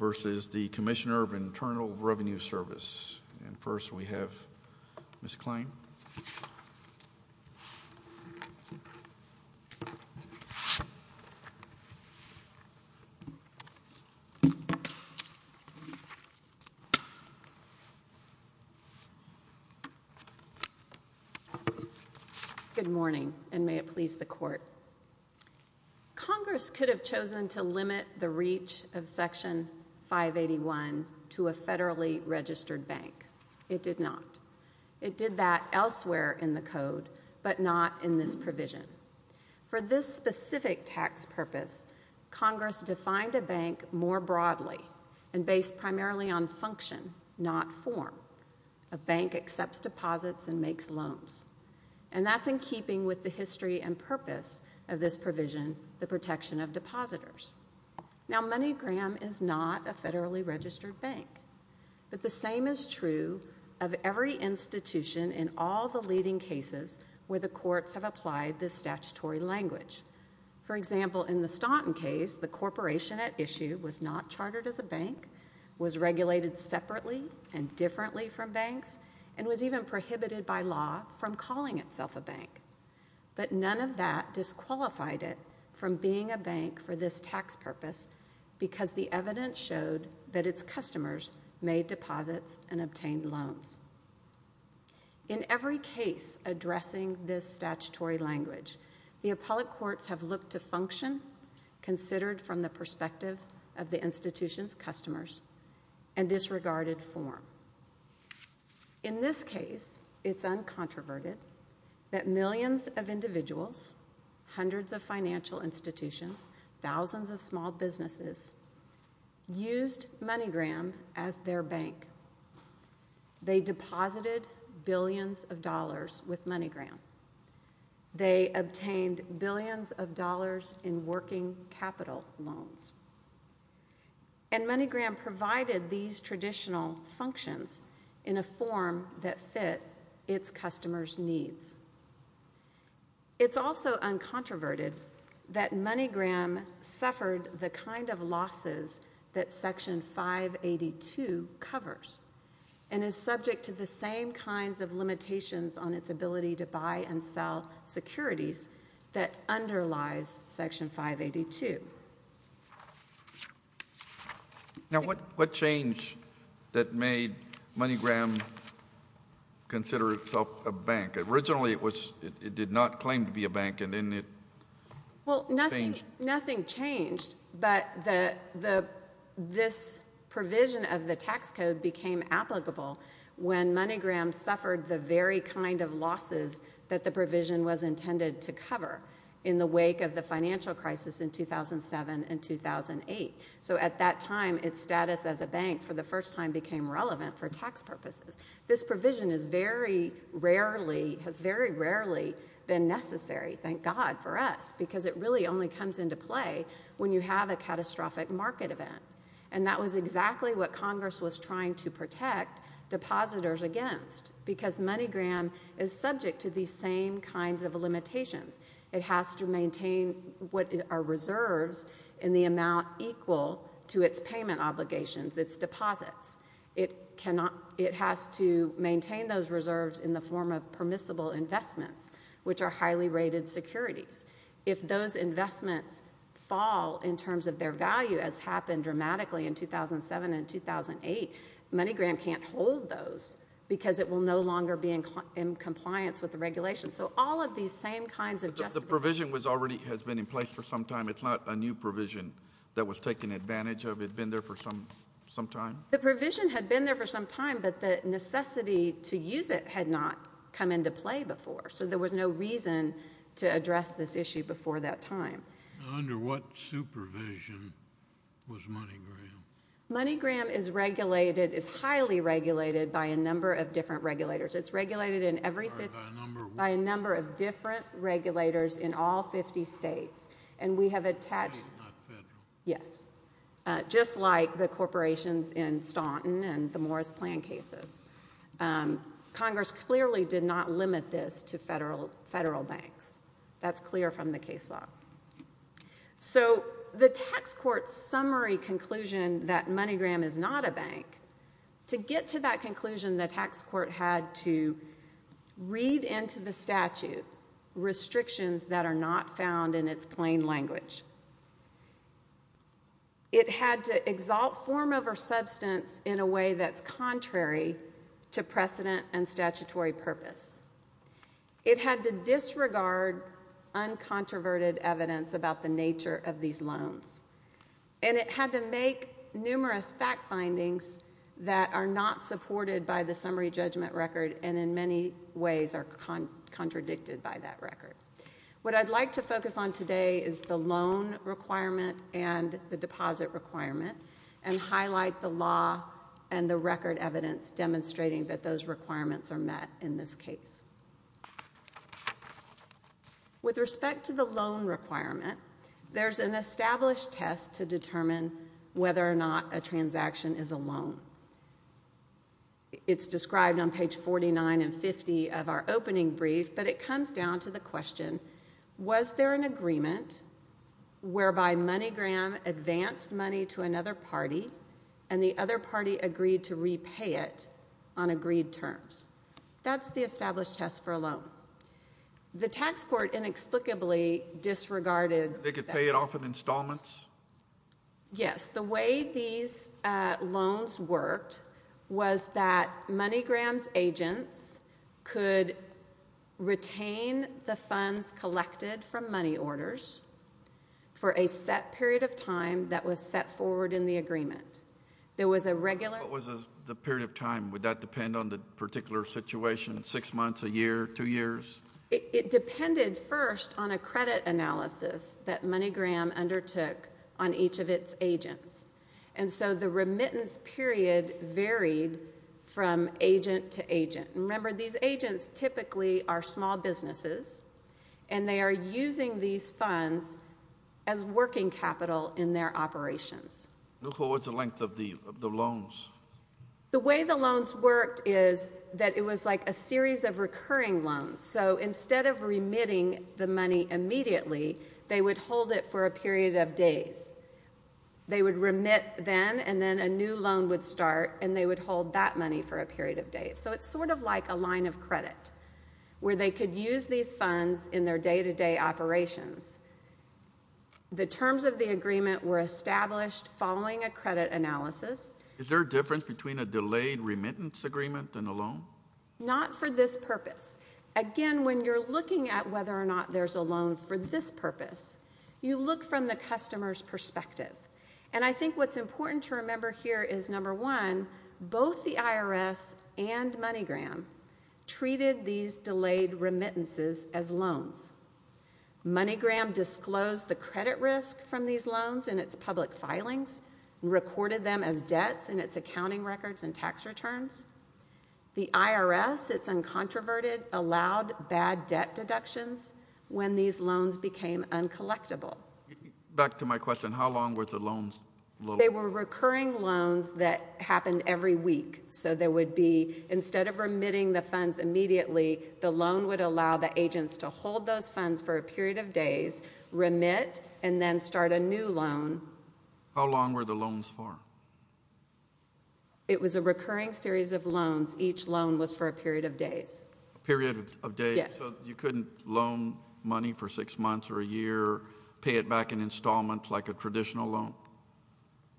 v. Commissioner of Internal Revenue Service. And first we have Ms. Klein. Good morning, and may it please the Court. Congress could have chosen to limit the reach of Section 581 to a federally registered bank. It did not. It did that elsewhere in the Code, but not in this provision. For this specific tax purpose, Congress defined a bank more broadly, and based primarily on function, not form. A bank accepts deposits and makes loans. And that's in keeping with the history and purpose of this provision, the protection of depositors. Now, MoneyGram is not a federally registered bank. But the same is true of every institution in all the leading cases where the courts have applied this statutory language. For example, in the Staunton case, the corporation at issue was not chartered as a bank, was regulated separately and differently from banks, and was even prohibited by law from calling itself a bank. But none of that disqualified it from being a bank for this tax purpose because the evidence showed that its customers made deposits and obtained loans. In every case addressing this statutory language, the appellate courts have looked to function, considered from the perspective of the institution's customers, and disregarded form. In this case, it's uncontroverted that millions of individuals, hundreds of financial institutions, thousands of small businesses, used MoneyGram as their bank. They deposited billions of dollars with MoneyGram. They obtained billions of dollars in working capital loans. And MoneyGram provided these traditional functions in a form that fit its customers' needs. It's also uncontroverted that MoneyGram suffered the kind of losses that Section 582 covers and is subject to the same kinds of limitations on its ability to buy and sell securities that underlies Section 582. Now, what changed that made MoneyGram consider itself a bank? Originally, it did not claim to be a bank, and then it changed. Well, nothing changed, but this provision of the tax code became applicable when MoneyGram suffered the very kind of losses that the provision was intended to cover in the wake of the financial crisis in 2007 and 2008. So at that time, its status as a bank for the first time became relevant for tax purposes. This provision has very rarely been necessary, thank God for us, because it really only comes into play when you have a catastrophic market event. And that was exactly what Congress was trying to protect depositors against, because MoneyGram is subject to these same kinds of limitations. It has to maintain what are reserves in the amount equal to its payment obligations, its deposits. It has to maintain those reserves in the form of permissible investments, which are highly rated securities. If those investments fall in terms of their value, as happened dramatically in 2007 and 2008, MoneyGram can't hold those because it will no longer be in compliance with the regulations. So all of these same kinds of justifications. But the provision already has been in place for some time. It's not a new provision that was taken advantage of. It had been there for some time? The provision had been there for some time, but the necessity to use it had not come into play before, so there was no reason to address this issue before that time. Under what supervision was MoneyGram? MoneyGram is regulated, is highly regulated, by a number of different regulators. It's regulated by a number of different regulators in all 50 states. And we have attached, yes, just like the corporations in Staunton and the Morris Plan cases. Congress clearly did not limit this to federal banks. That's clear from the case law. So the tax court's summary conclusion that MoneyGram is not a bank, to get to that conclusion, the tax court had to read into the statute restrictions that are not found in its plain language. It had to exalt form over substance in a way that's contrary to precedent and statutory purpose. It had to disregard uncontroverted evidence about the nature of these loans. And it had to make numerous fact findings that are not supported by the summary judgment record and in many ways are contradicted by that record. What I'd like to focus on today is the loan requirement and the deposit requirement and highlight the law and the record evidence demonstrating that those requirements are met in this case. With respect to the loan requirement, there's an established test to determine whether or not a transaction is a loan. It's described on page 49 and 50 of our opening brief, but it comes down to the question, was there an agreement whereby MoneyGram advanced money to another party and the other party agreed to repay it on agreed terms? That's the established test for a loan. The tax court inexplicably disregarded that. They could pay it off in installments? Yes. The way these loans worked was that MoneyGram's agents could retain the funds collected from money orders for a set period of time that was set forward in the agreement. There was a regular... What was the period of time? Would that depend on the particular situation, six months, a year, two years? It depended first on a credit analysis that MoneyGram undertook on each of its agents, and so the remittance period varied from agent to agent. Remember, these agents typically are small businesses, and they are using these funds as working capital in their operations. What's the length of the loans? The way the loans worked is that it was like a series of recurring loans. So instead of remitting the money immediately, they would hold it for a period of days. They would remit then, and then a new loan would start, and they would hold that money for a period of days. So it's sort of like a line of credit where they could use these funds in their day-to-day operations. The terms of the agreement were established following a credit analysis. Is there a difference between a delayed remittance agreement and a loan? Not for this purpose. Again, when you're looking at whether or not there's a loan for this purpose, you look from the customer's perspective, and I think what's important to remember here is, number one, both the IRS and MoneyGram treated these delayed remittances as loans. MoneyGram disclosed the credit risk from these loans in its public filings, recorded them as debts in its accounting records and tax returns. The IRS, it's uncontroverted, allowed bad debt deductions when these loans became uncollectible. Back to my question, how long were the loans? They were recurring loans that happened every week. So there would be, instead of remitting the funds immediately, the loan would allow the agents to hold those funds for a period of days, remit, and then start a new loan. How long were the loans for? It was a recurring series of loans. Each loan was for a period of days. A period of days? Yes. So you couldn't loan money for six months or a year, pay it back in installments like a traditional loan?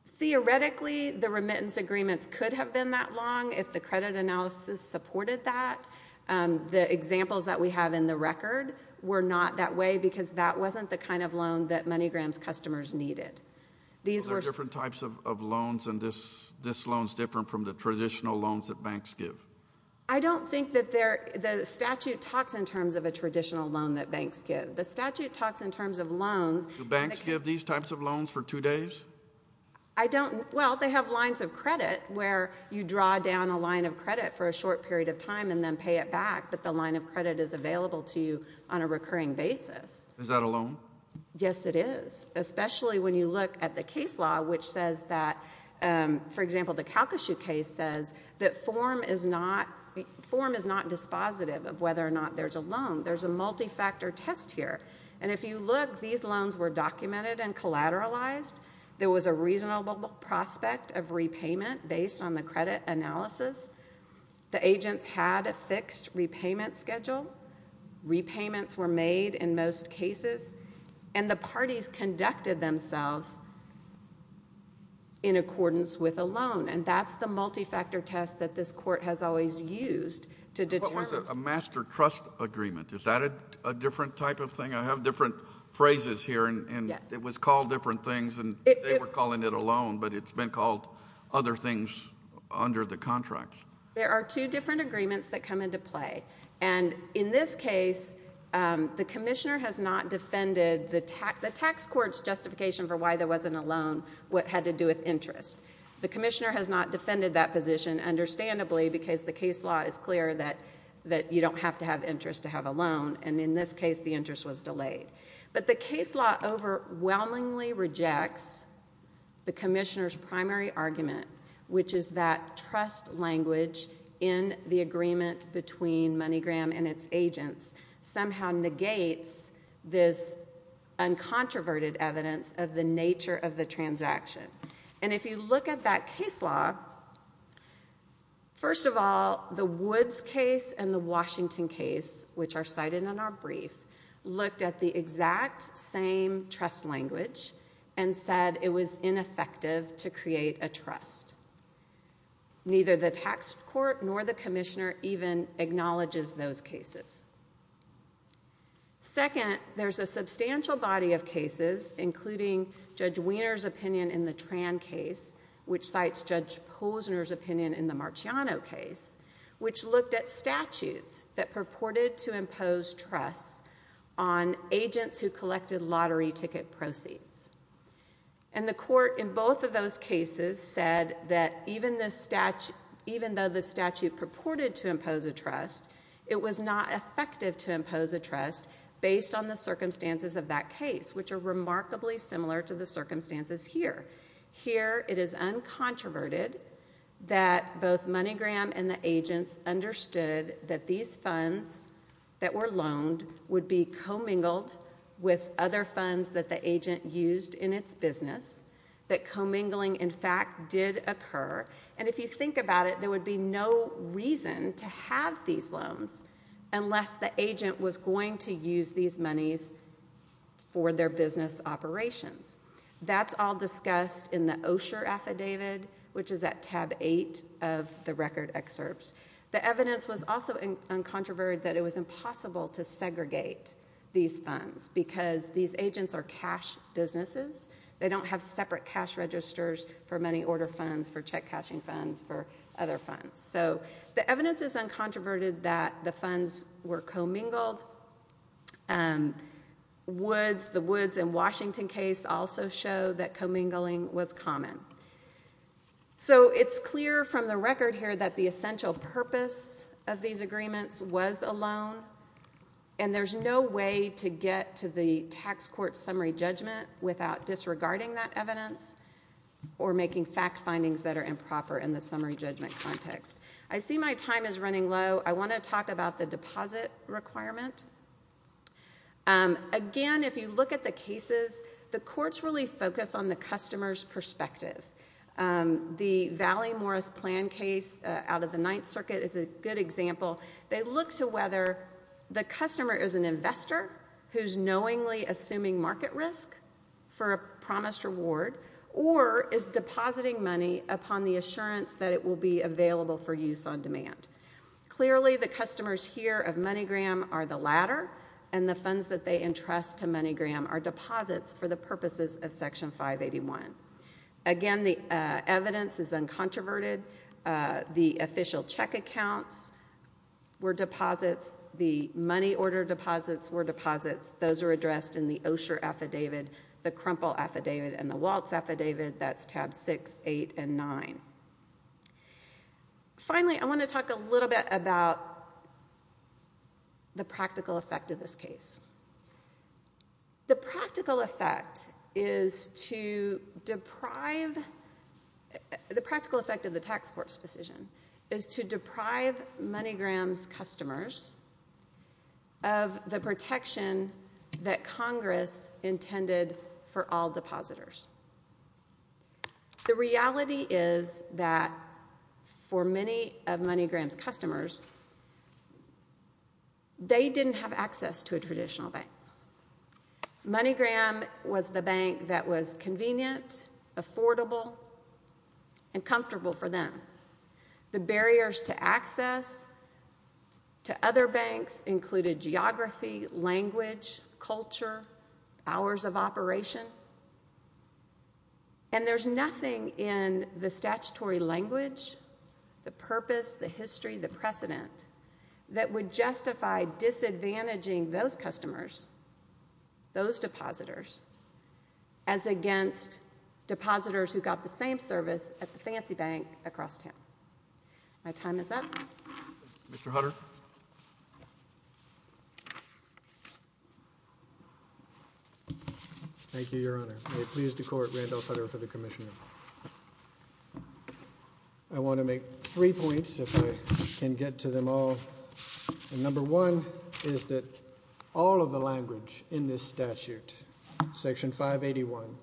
Theoretically, the remittance agreements could have been that long if the credit analysis supported that. The examples that we have in the record were not that way because that wasn't the kind of loan that MoneyGram's customers needed. So there are different types of loans, and this loan is different from the traditional loans that banks give? I don't think that the statute talks in terms of a traditional loan that banks give. The statute talks in terms of loans. Do banks give these types of loans for two days? I don't. Well, they have lines of credit where you draw down a line of credit for a short period of time and then pay it back, but the line of credit is available to you on a recurring basis. Is that a loan? Yes, it is, especially when you look at the case law, which says that, for example, the Calcasieu case says that form is not dispositive of whether or not there's a loan. There's a multi-factor test here, and if you look, these loans were documented and collateralized. There was a reasonable prospect of repayment based on the credit analysis. The agents had a fixed repayment schedule. Repayments were made in most cases, and the parties conducted themselves in accordance with a loan, and that's the multi-factor test that this court has always used to determine. What was a master trust agreement? Is that a different type of thing? I have different phrases here, and it was called different things, and they were calling it a loan, but it's been called other things under the contract. There are two different agreements that come into play, and in this case the commissioner has not defended the tax court's justification for why there wasn't a loan, what had to do with interest. The commissioner has not defended that position, understandably, because the case law is clear that you don't have to have interest to have a loan, and in this case the interest was delayed. But the case law overwhelmingly rejects the commissioner's primary argument, which is that trust language in the agreement between MoneyGram and its agents somehow negates this uncontroverted evidence of the nature of the transaction. And if you look at that case law, first of all, the Woods case and the Washington case, which are cited in our brief, looked at the exact same trust language and said it was ineffective to create a trust. Neither the tax court nor the commissioner even acknowledges those cases. Second, there's a substantial body of cases, including Judge Wiener's opinion in the Tran case, which cites Judge Posner's opinion in the Marciano case, which looked at statutes that purported to impose trust on agents who collected lottery ticket proceeds. And the court in both of those cases said that even though the statute purported to impose a trust, it was not effective to impose a trust based on the circumstances of that case, which are remarkably similar to the circumstances here. Here it is uncontroverted that both MoneyGram and the agents understood that these funds that were loaned would be commingled with other funds that the agent used in its business, that commingling, in fact, did occur. And if you think about it, there would be no reason to have these loans unless the agent was going to use these monies for their business operations. That's all discussed in the Osher affidavit, which is at tab 8 of the record excerpts. The evidence was also uncontroverted that it was impossible to segregate these funds because these agents are cash businesses. They don't have separate cash registers for money order funds, for check cashing funds, for other funds. So the evidence is uncontroverted that the funds were commingled. The Woods and Washington case also showed that commingling was common. So it's clear from the record here that the essential purpose of these agreements was a loan, and there's no way to get to the tax court summary judgment without disregarding that evidence or making fact findings that are improper in the summary judgment context. I see my time is running low. I want to talk about the deposit requirement. Again, if you look at the cases, the courts really focus on the customer's perspective. The Valley Morris plan case out of the Ninth Circuit is a good example. They look to whether the customer is an investor who's knowingly assuming market risk for a promised reward or is depositing money upon the assurance that it will be available for use on demand. Clearly, the customers here of MoneyGram are the latter, and the funds that they entrust to MoneyGram are deposits for the purposes of Section 581. Again, the evidence is uncontroverted. The official check accounts were deposits. The money order deposits were deposits. Those are addressed in the Osher affidavit, the Crumple affidavit, and the Waltz affidavit. That's tabs 6, 8, and 9. Finally, I want to talk a little bit about the practical effect of this case. The practical effect is to deprive the tax court's decision is to deprive MoneyGram's customers of the protection that Congress intended for all depositors. The reality is that for many of MoneyGram's customers, they didn't have access to a traditional bank. MoneyGram was the bank that was convenient, affordable, and comfortable for them. The barriers to access to other banks included geography, language, culture, hours of operation, and there's nothing in the statutory language, the purpose, the history, the precedent that would justify disadvantaging those customers, those depositors, as against depositors who got the same service at the fancy bank across town. My time is up. Mr. Hutter? Thank you, Your Honor. May it please the Court, Randall Hutter for the commission. I want to make three points, if I can get to them all. Number one is that all of the language in this statute, Section 581,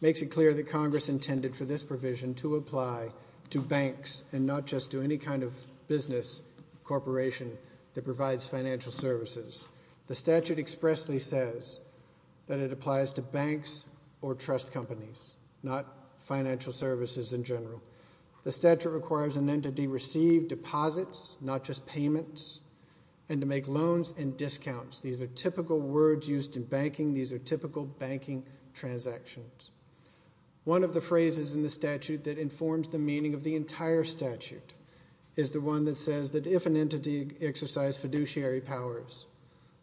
makes it clear that Congress intended for this provision to apply to banks and not just to any kind of business corporation that provides financial services. The statute expressly says that it applies to banks or trust companies, not financial services in general. The statute requires an entity receive deposits, not just payments, and to make loans and discounts. These are typical words used in banking. These are typical banking transactions. One of the phrases in the statute that informs the meaning of the entire statute is the one that says that if an entity exercised fiduciary powers,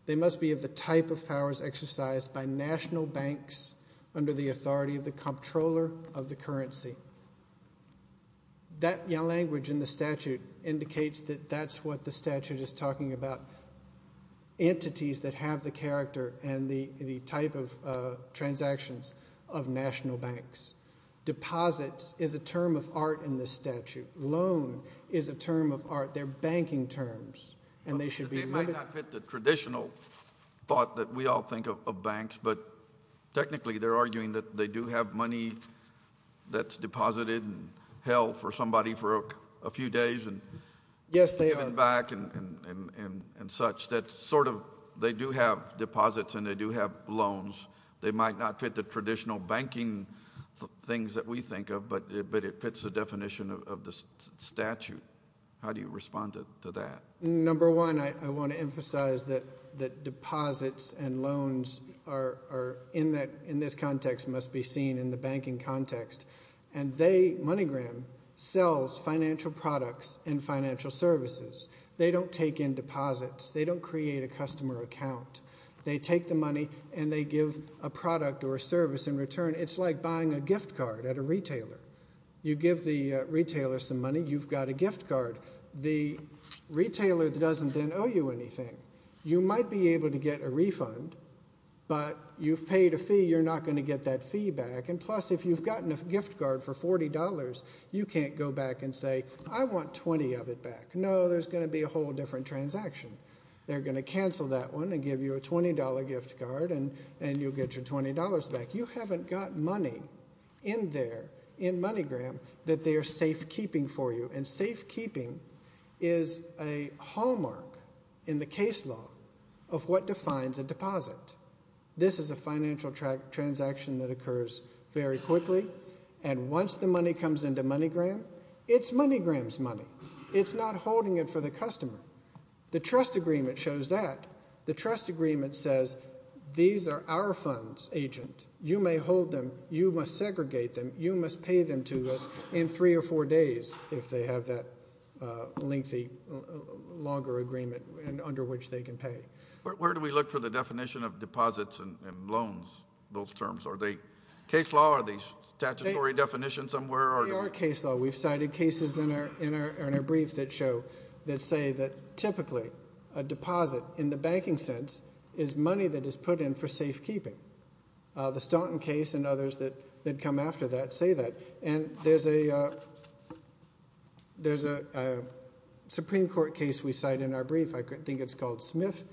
they must be of the type of powers exercised by national banks under the authority of the comptroller of the currency. That language in the statute indicates that that's what the statute is talking about, entities that have the character and the type of transactions of national banks. Deposits is a term of art in this statute. Loan is a term of art. They're banking terms, and they should be limited. They might not fit the traditional thought that we all think of banks, but technically they're arguing that they do have money that's deposited and held for somebody for a few days and given back and such, that sort of they do have deposits and they do have loans. They might not fit the traditional banking things that we think of, but it fits the definition of the statute. How do you respond to that? Number one, I want to emphasize that deposits and loans in this context must be seen in the banking context, and MoneyGram sells financial products and financial services. They don't take in deposits. They don't create a customer account. They take the money and they give a product or a service in return. It's like buying a gift card at a retailer. You give the retailer some money, you've got a gift card. The retailer doesn't then owe you anything. You might be able to get a refund, but you've paid a fee, you're not going to get that fee back, and plus if you've gotten a gift card for $40, you can't go back and say, I want 20 of it back. No, there's going to be a whole different transaction. They're going to cancel that one and give you a $20 gift card, and you'll get your $20 back. You haven't got money in there, in MoneyGram, that they are safekeeping for you, and safekeeping is a hallmark in the case law of what defines a deposit. This is a financial transaction that occurs very quickly, and once the money comes into MoneyGram, it's MoneyGram's money. It's not holding it for the customer. The trust agreement shows that. The trust agreement says these are our funds, agent. You may hold them. You must segregate them. You must pay them to us in three or four days if they have that lengthy, longer agreement under which they can pay. Where do we look for the definition of deposits and loans, those terms? Are they case law? Are they statutory definition somewhere? They are case law. We've cited cases in our brief that say that, typically, a deposit in the banking sense is money that is put in for safekeeping. The Staunton case and others that come after that say that, and there's a Supreme Court case we cite in our brief, I think it's called Smith,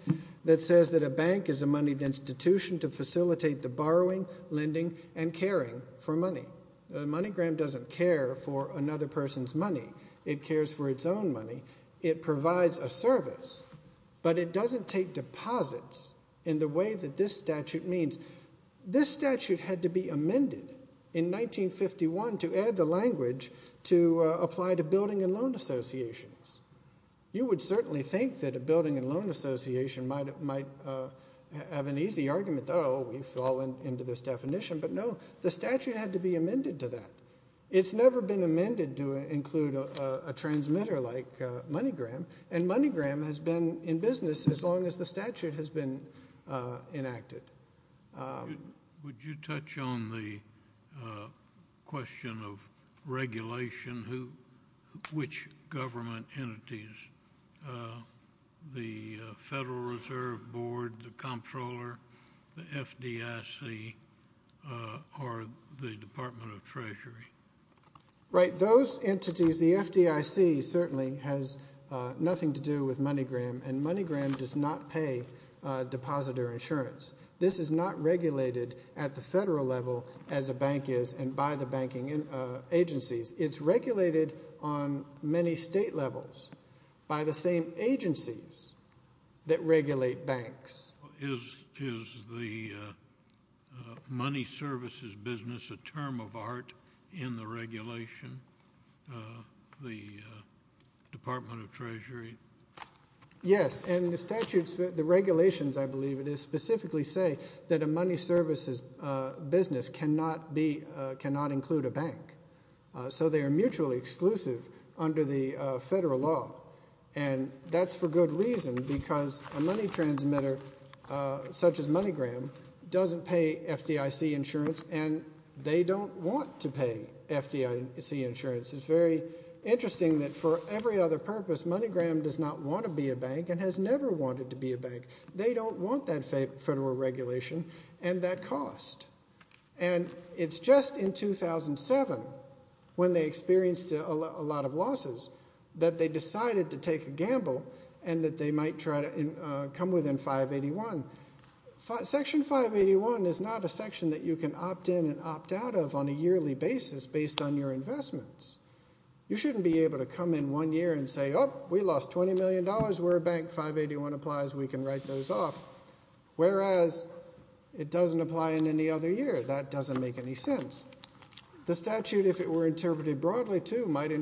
that says that a bank is a moneyed institution to facilitate the borrowing, lending, and caring for money. MoneyGram doesn't care for another person's money. It cares for its own money. It provides a service, but it doesn't take deposits in the way that this statute means. This statute had to be amended in 1951 to add the language to apply to building and loan associations. You would certainly think that a building and loan association might have an easy argument, oh, we've fallen into this definition, but no. The statute had to be amended to that. It's never been amended to include a transmitter like MoneyGram, and MoneyGram has been in business as long as the statute has been enacted. Would you touch on the question of regulation, which government entities, the Federal Reserve Board, the Comptroller, the FDIC, or the Department of Treasury? Right, those entities, the FDIC certainly has nothing to do with MoneyGram, and MoneyGram does not pay depositor insurance. This is not regulated at the federal level as a bank is and by the banking agencies. It's regulated on many state levels by the same agencies that regulate banks. Is the money services business a term of art in the regulation, the Department of Treasury? Yes, and the regulations, I believe it is, specifically say that a money services business cannot include a bank. So they are mutually exclusive under the federal law, and that's for good reason because a money transmitter such as MoneyGram doesn't pay FDIC insurance, and they don't want to pay FDIC insurance. It's very interesting that for every other purpose, MoneyGram does not want to be a bank and has never wanted to be a bank. They don't want that federal regulation and that cost. And it's just in 2007 when they experienced a lot of losses that they decided to take a gamble and that they might try to come within 581. Section 581 is not a section that you can opt in and opt out of on a yearly basis based on your investments. You shouldn't be able to come in one year and say, oh, we lost $20 million, we're a bank, 581 applies, we can write those off. Whereas it doesn't apply in any other year. That doesn't make any sense. The statute, if it were interpreted broadly too, might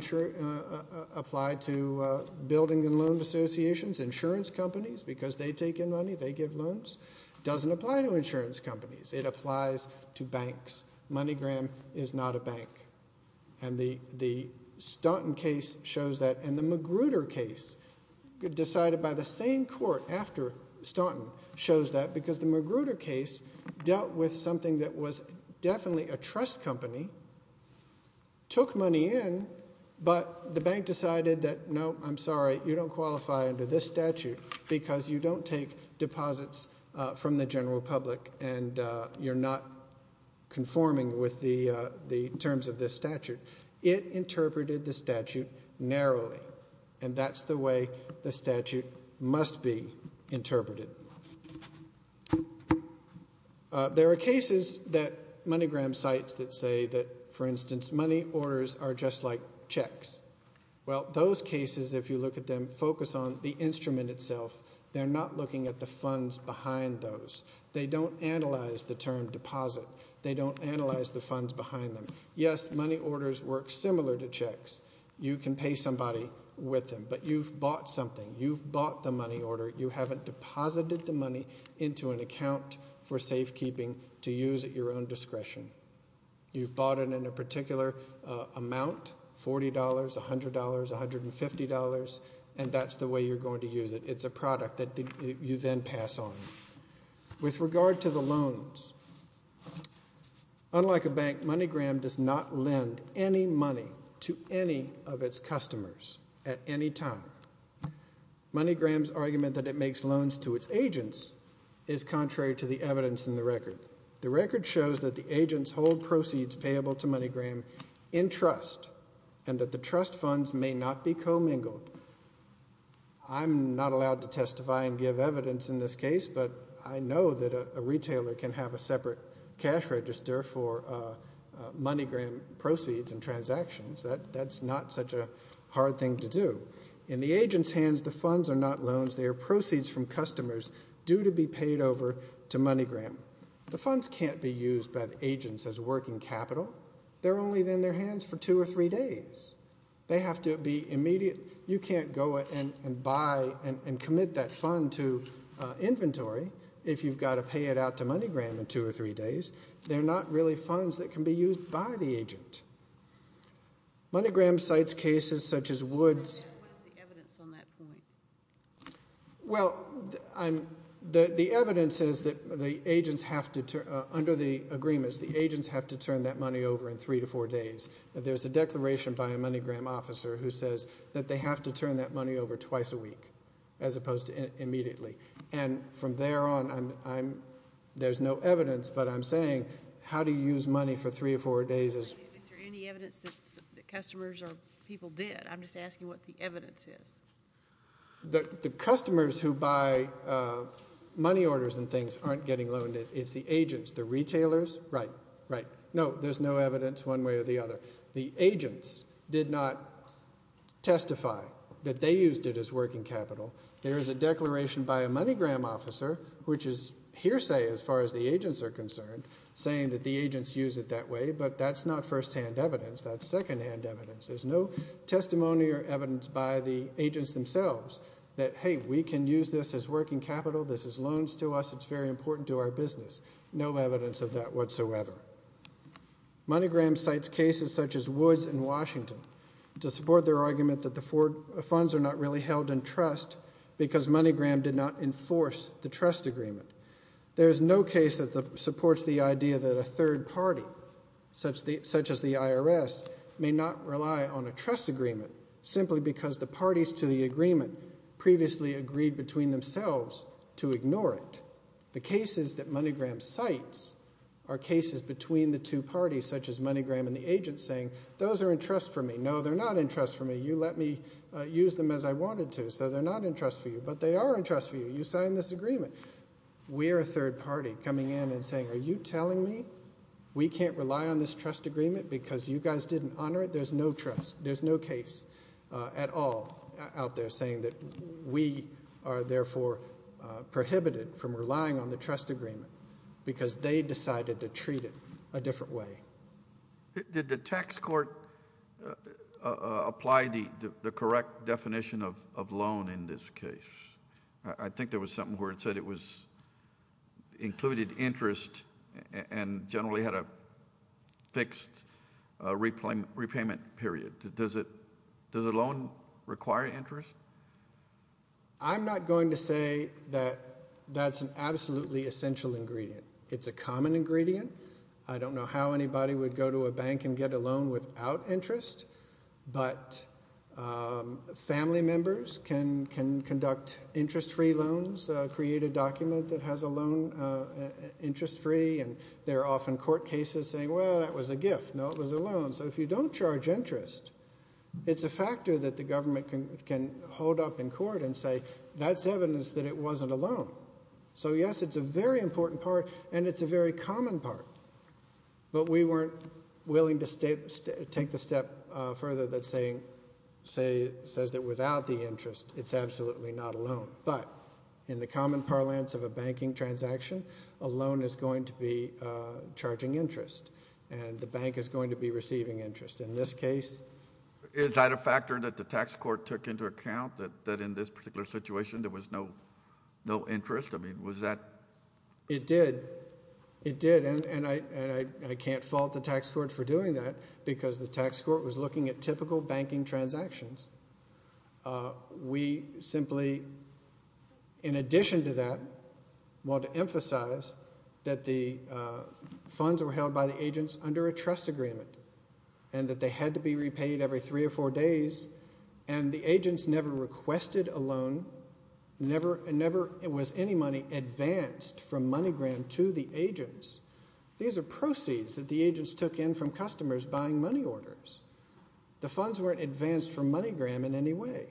apply to building and loan associations, insurance companies, because they take in money, they give loans. It doesn't apply to insurance companies. It applies to banks. MoneyGram is not a bank. And the Staunton case shows that, and the Magruder case, decided by the same court after Staunton, shows that because the Magruder case dealt with something that was definitely a trust company, took money in, but the bank decided that, no, I'm sorry, you don't qualify under this statute because you don't take deposits from the general public and you're not conforming with the terms of this statute. It interpreted the statute narrowly. And that's the way the statute must be interpreted. There are cases that MoneyGram cites that say that, for instance, money orders are just like checks. Well, those cases, if you look at them, focus on the instrument itself. They're not looking at the funds behind those. They don't analyze the term deposit. They don't analyze the funds behind them. Yes, money orders work similar to checks. You can pay somebody with them, but you've bought something. You've bought the money order. You haven't deposited the money into an account for safekeeping to use at your own discretion. You've bought it in a particular amount, $40, $100, $150, and that's the way you're going to use it. It's a product that you then pass on. With regard to the loans, unlike a bank, MoneyGram does not lend any money to any of its customers at any time. MoneyGram's argument that it makes loans to its agents is contrary to the evidence in the record. The record shows that the agents hold proceeds payable to MoneyGram in trust and that the trust funds may not be commingled. I'm not allowed to testify and give evidence in this case, but I know that a retailer can have a separate cash register for MoneyGram proceeds and transactions. That's not such a hard thing to do. In the agents' hands, the funds are not loans. They are proceeds from customers due to be paid over to MoneyGram. The funds can't be used by the agents as working capital. They're only in their hands for two or three days. They have to be immediate. You can't go and buy and commit that fund to inventory if you've got to pay it out to MoneyGram in two or three days. They're not really funds that can be used by the agent. MoneyGram cites cases such as Woods. What is the evidence on that point? Well, the evidence is that under the agreements, the agents have to turn that money over in three to four days. There's a declaration by a MoneyGram officer who says that they have to turn that money over twice a week as opposed to immediately. And from there on, there's no evidence, but I'm saying how do you use money for three or four days? Is there any evidence that customers or people did? I'm just asking what the evidence is. The customers who buy money orders and things aren't getting loaned. It's the agents. The retailers, right, right. No, there's no evidence one way or the other. The agents did not testify that they used it as working capital. There is a declaration by a MoneyGram officer, which is hearsay as far as the agents are concerned, saying that the agents use it that way, but that's not firsthand evidence. That's secondhand evidence. There's no testimony or evidence by the agents themselves that, hey, we can use this as working capital. This is loans to us. It's very important to our business. There's no evidence of that whatsoever. MoneyGram cites cases such as Woods in Washington to support their argument that the funds are not really held in trust because MoneyGram did not enforce the trust agreement. There is no case that supports the idea that a third party, such as the IRS, may not rely on a trust agreement simply because the parties to the agreement previously agreed between themselves to ignore it. The cases that MoneyGram cites are cases between the two parties, such as MoneyGram and the agents, saying those are in trust for me. No, they're not in trust for me. You let me use them as I wanted to, so they're not in trust for you. But they are in trust for you. You signed this agreement. We're a third party coming in and saying, are you telling me we can't rely on this trust agreement because you guys didn't honor it? There's no trust. There's no case at all out there saying that we are, therefore, prohibited from relying on the trust agreement because they decided to treat it a different way. Did the tax court apply the correct definition of loan in this case? I think there was something where it said it included interest and generally had a fixed repayment period. Does a loan require interest? I'm not going to say that that's an absolutely essential ingredient. It's a common ingredient. I don't know how anybody would go to a bank and get a loan without interest, but family members can conduct interest-free loans, create a document that has a loan interest-free, and there are often court cases saying, well, that was a gift. No, it was a loan. So if you don't charge interest, it's a factor that the government can hold up in court and say, that's evidence that it wasn't a loan. So, yes, it's a very important part and it's a very common part, but we weren't willing to take the step further that says that without the interest it's absolutely not a loan. But in the common parlance of a banking transaction, a loan is going to be charging interest and the bank is going to be receiving interest. In this case... Is that a factor that the tax court took into account, that in this particular situation there was no interest? I mean, was that... It did. It did. And I can't fault the tax court for doing that because the tax court was looking at typical banking transactions. We simply, in addition to that, want to emphasize that the funds were held by the agents under a trust agreement and that they had to be repaid every three or four days and the agents never requested a loan, never was any money advanced from MoneyGram to the agents. These are proceeds that the agents took in from customers buying money orders. The funds weren't advanced from MoneyGram in any way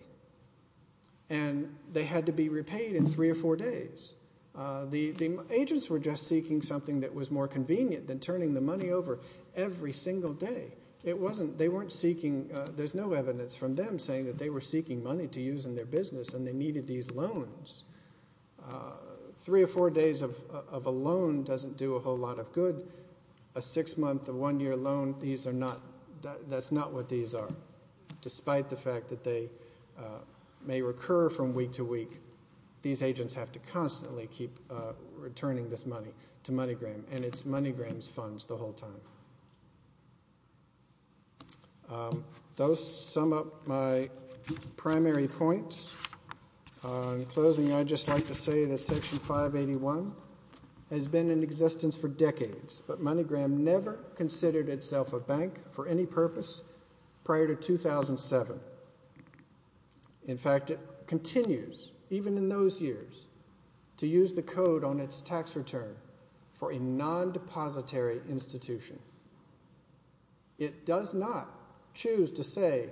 and they had to be repaid in three or four days. The agents were just seeking something that was more convenient than turning the money over every single day. They weren't seeking... There's no evidence from them saying that they were seeking money to use in their business and they needed these loans. Three or four days of a loan doesn't do a whole lot of good. A six-month or one-year loan, these are not... That's not what these are. Despite the fact that they may recur from week to week, these agents have to constantly keep returning this money to MoneyGram and it's MoneyGram's funds the whole time. Those sum up my primary points. In closing, I'd just like to say that Section 581 has been in existence for decades, but MoneyGram never considered itself a bank for any purpose prior to 2007. In fact, it continues, even in those years, to use the code on its tax return for a non-depository institution. It does not choose to say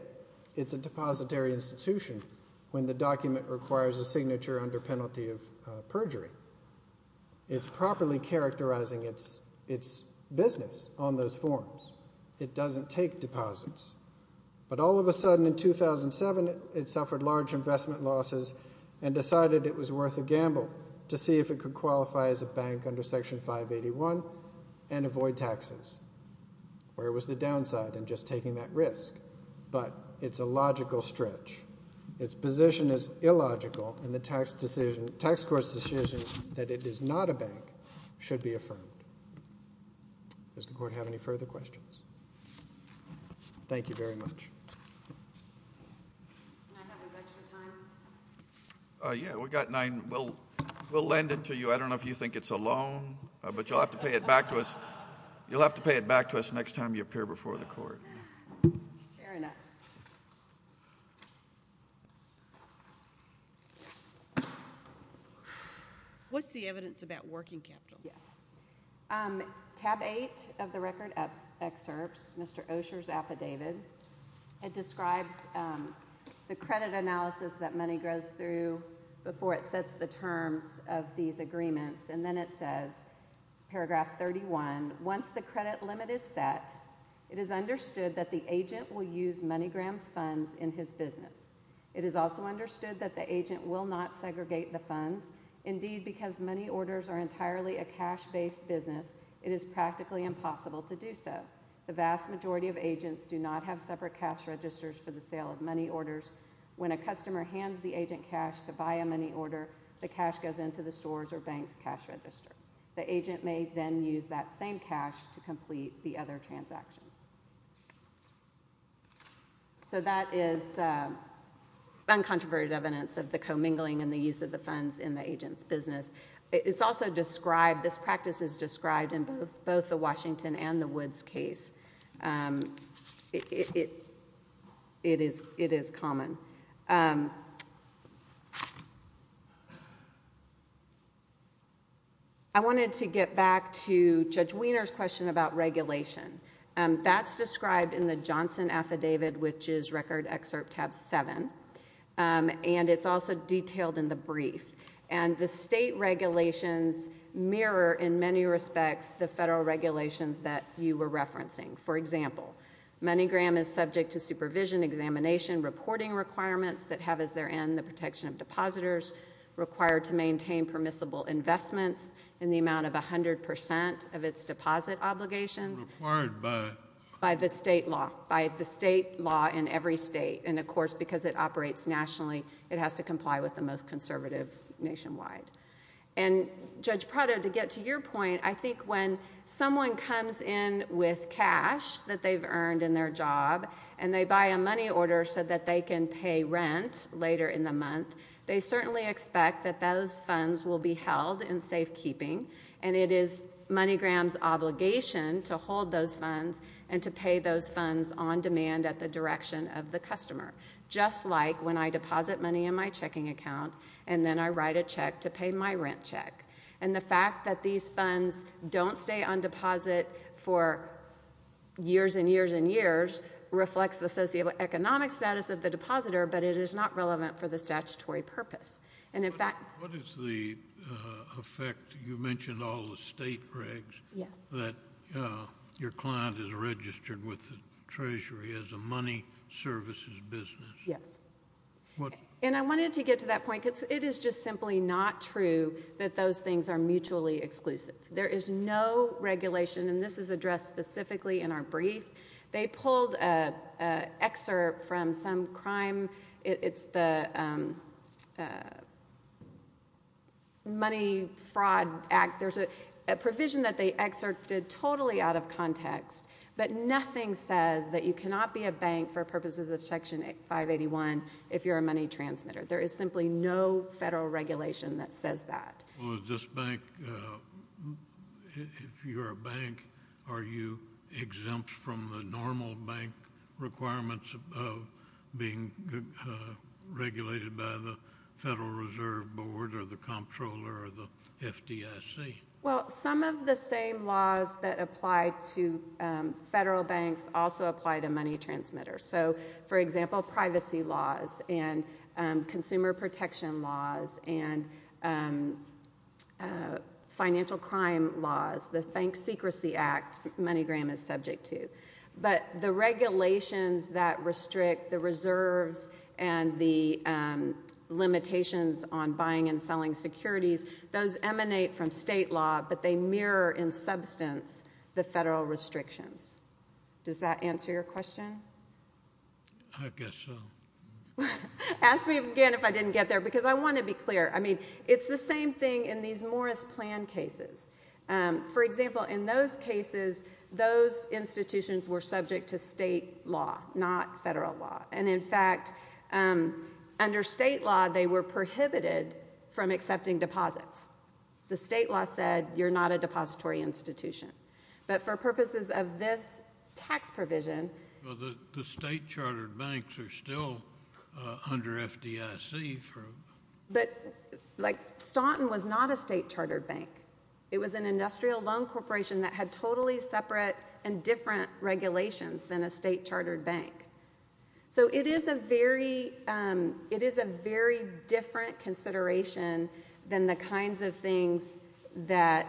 it's a depository institution when the document requires a signature under penalty of perjury. It's properly characterizing its business on those forms. It doesn't take deposits. But all of a sudden, in 2007, it suffered large investment losses and decided it was worth a gamble to see if it could qualify as a bank under Section 581 and avoid taxes. Where was the downside in just taking that risk? But it's a logical stretch. Its position is illogical, and the tax court's decision that it is not a bank should be affirmed. Does the court have any further questions? Thank you very much. Can I have my budget for time? Yeah, we've got nine. We'll lend it to you. I don't know if you think it's a loan, but you'll have to pay it back to us next time you appear before the court. Fair enough. What's the evidence about working capital? Yes. Tab 8 of the record excerpts, Mr. Osher's affidavit, it describes the credit analysis that money goes through before it sets the terms of these agreements, and then it says, paragraph 31, once the credit limit is set, it is understood that the agent will use MoneyGram's funds in his business. It is also understood that the agent will not segregate the funds, Indeed, because money orders are entirely a cash-based business, it is practically impossible to do so. The vast majority of agents do not have separate cash registers for the sale of money orders. When a customer hands the agent cash to buy a money order, the cash goes into the store's or bank's cash register. The agent may then use that same cash to complete the other transactions. So that is uncontroverted evidence of the commingling and the use of the funds in the agent's business. It's also described, this practice is described in both the Washington and the Woods case. It is common. I wanted to get back to Judge Weiner's question about regulation. That's described in the Johnson affidavit, which is record excerpt tab 7, and it's also detailed in the brief. And the state regulations mirror, in many respects, the federal regulations that you were referencing. For example, MoneyGram is subject to supervision, examination, reporting requirements that have as their end the protection of depositors, required to maintain permissible investments in the amount of 100% of its deposit obligations. Required by? By the state law. By the state law in every state. And, of course, because it operates nationally, it has to comply with the most conservative nationwide. And, Judge Prado, to get to your point, I think when someone comes in with cash that they've earned in their job and they buy a money order so that they can pay rent later in the month, they certainly expect that those funds will be held in safekeeping, and it is MoneyGram's obligation to hold those funds and to pay those funds on demand at the direction of the customer, just like when I deposit money in my checking account and then I write a check to pay my rent check. And the fact that these funds don't stay on deposit for years and years and years reflects the socioeconomic status of the depositor, but it is not relevant for the statutory purpose. What is the effect? You mentioned all the state regs. Yes. That your client is registered with the Treasury as a money services business. Yes. And I wanted to get to that point because it is just simply not true that those things are mutually exclusive. There is no regulation, and this is addressed specifically in our brief. They pulled an excerpt from some crime. It's the Money Fraud Act. There's a provision that they excerpted totally out of context, but nothing says that you cannot be a bank for purposes of Section 581 if you're a money transmitter. There is simply no federal regulation that says that. Well, is this bank, if you're a bank, are you exempt from the normal bank requirements of being regulated by the Federal Reserve Board or the comptroller or the FDIC? Well, some of the same laws that apply to federal banks also apply to money transmitters. So, for example, privacy laws and consumer protection laws and financial crime laws, the Bank Secrecy Act, MoneyGram is subject to. But the regulations that restrict the reserves and the limitations on buying and selling securities, those emanate from state law, but they mirror in substance the federal restrictions. Does that answer your question? I guess so. Ask me again if I didn't get there, because I want to be clear. I mean, it's the same thing in these Morris Plan cases. For example, in those cases, those institutions were subject to state law, not federal law. And, in fact, under state law, they were prohibited from accepting deposits. The state law said you're not a depository institution. But for purposes of this tax provision... Well, the state-chartered banks are still under FDIC. But, like, Staunton was not a state-chartered bank. It was an industrial loan corporation that had totally separate and different regulations than a state-chartered bank. So it is a very... It is a very different consideration than the kinds of things that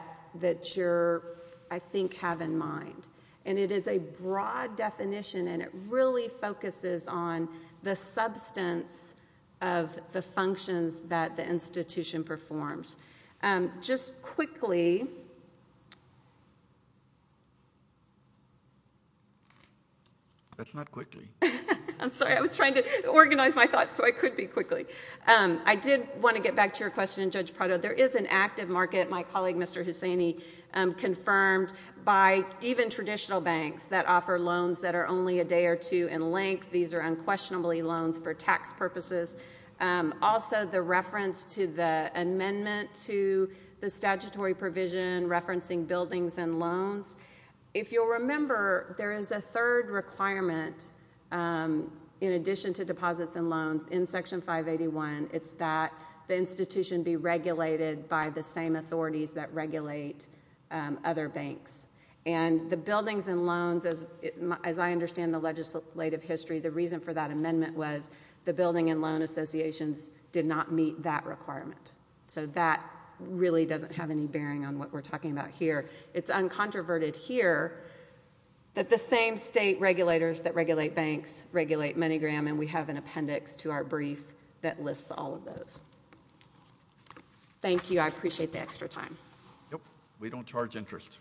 you're... I think have in mind. And it is a broad definition, and it really focuses on the substance of the functions that the institution performs. Just quickly... That's not quickly. I'm sorry. I was trying to organize my thoughts so I could be quickly. I did want to get back to your question, Judge Prado. There is an active market, my colleague Mr. Hussaini, confirmed by even traditional banks that offer loans that are only a day or two in length. These are unquestionably loans for tax purposes. Also, the reference to the amendment to the statutory provision referencing buildings and loans If you'll remember, there is a third requirement in addition to deposits and loans in Section 581. It's that the institution be regulated by the same authorities that regulate other banks. And the buildings and loans, as I understand the legislative history, the reason for that amendment was the building and loan associations did not meet that requirement. So that really doesn't have any bearing on what we're talking about here. It's uncontroverted here that the same state regulators that regulate banks regulate MoneyGram, and we have an appendix to our brief that lists all of those. Thank you. I appreciate the extra time. We don't charge interest.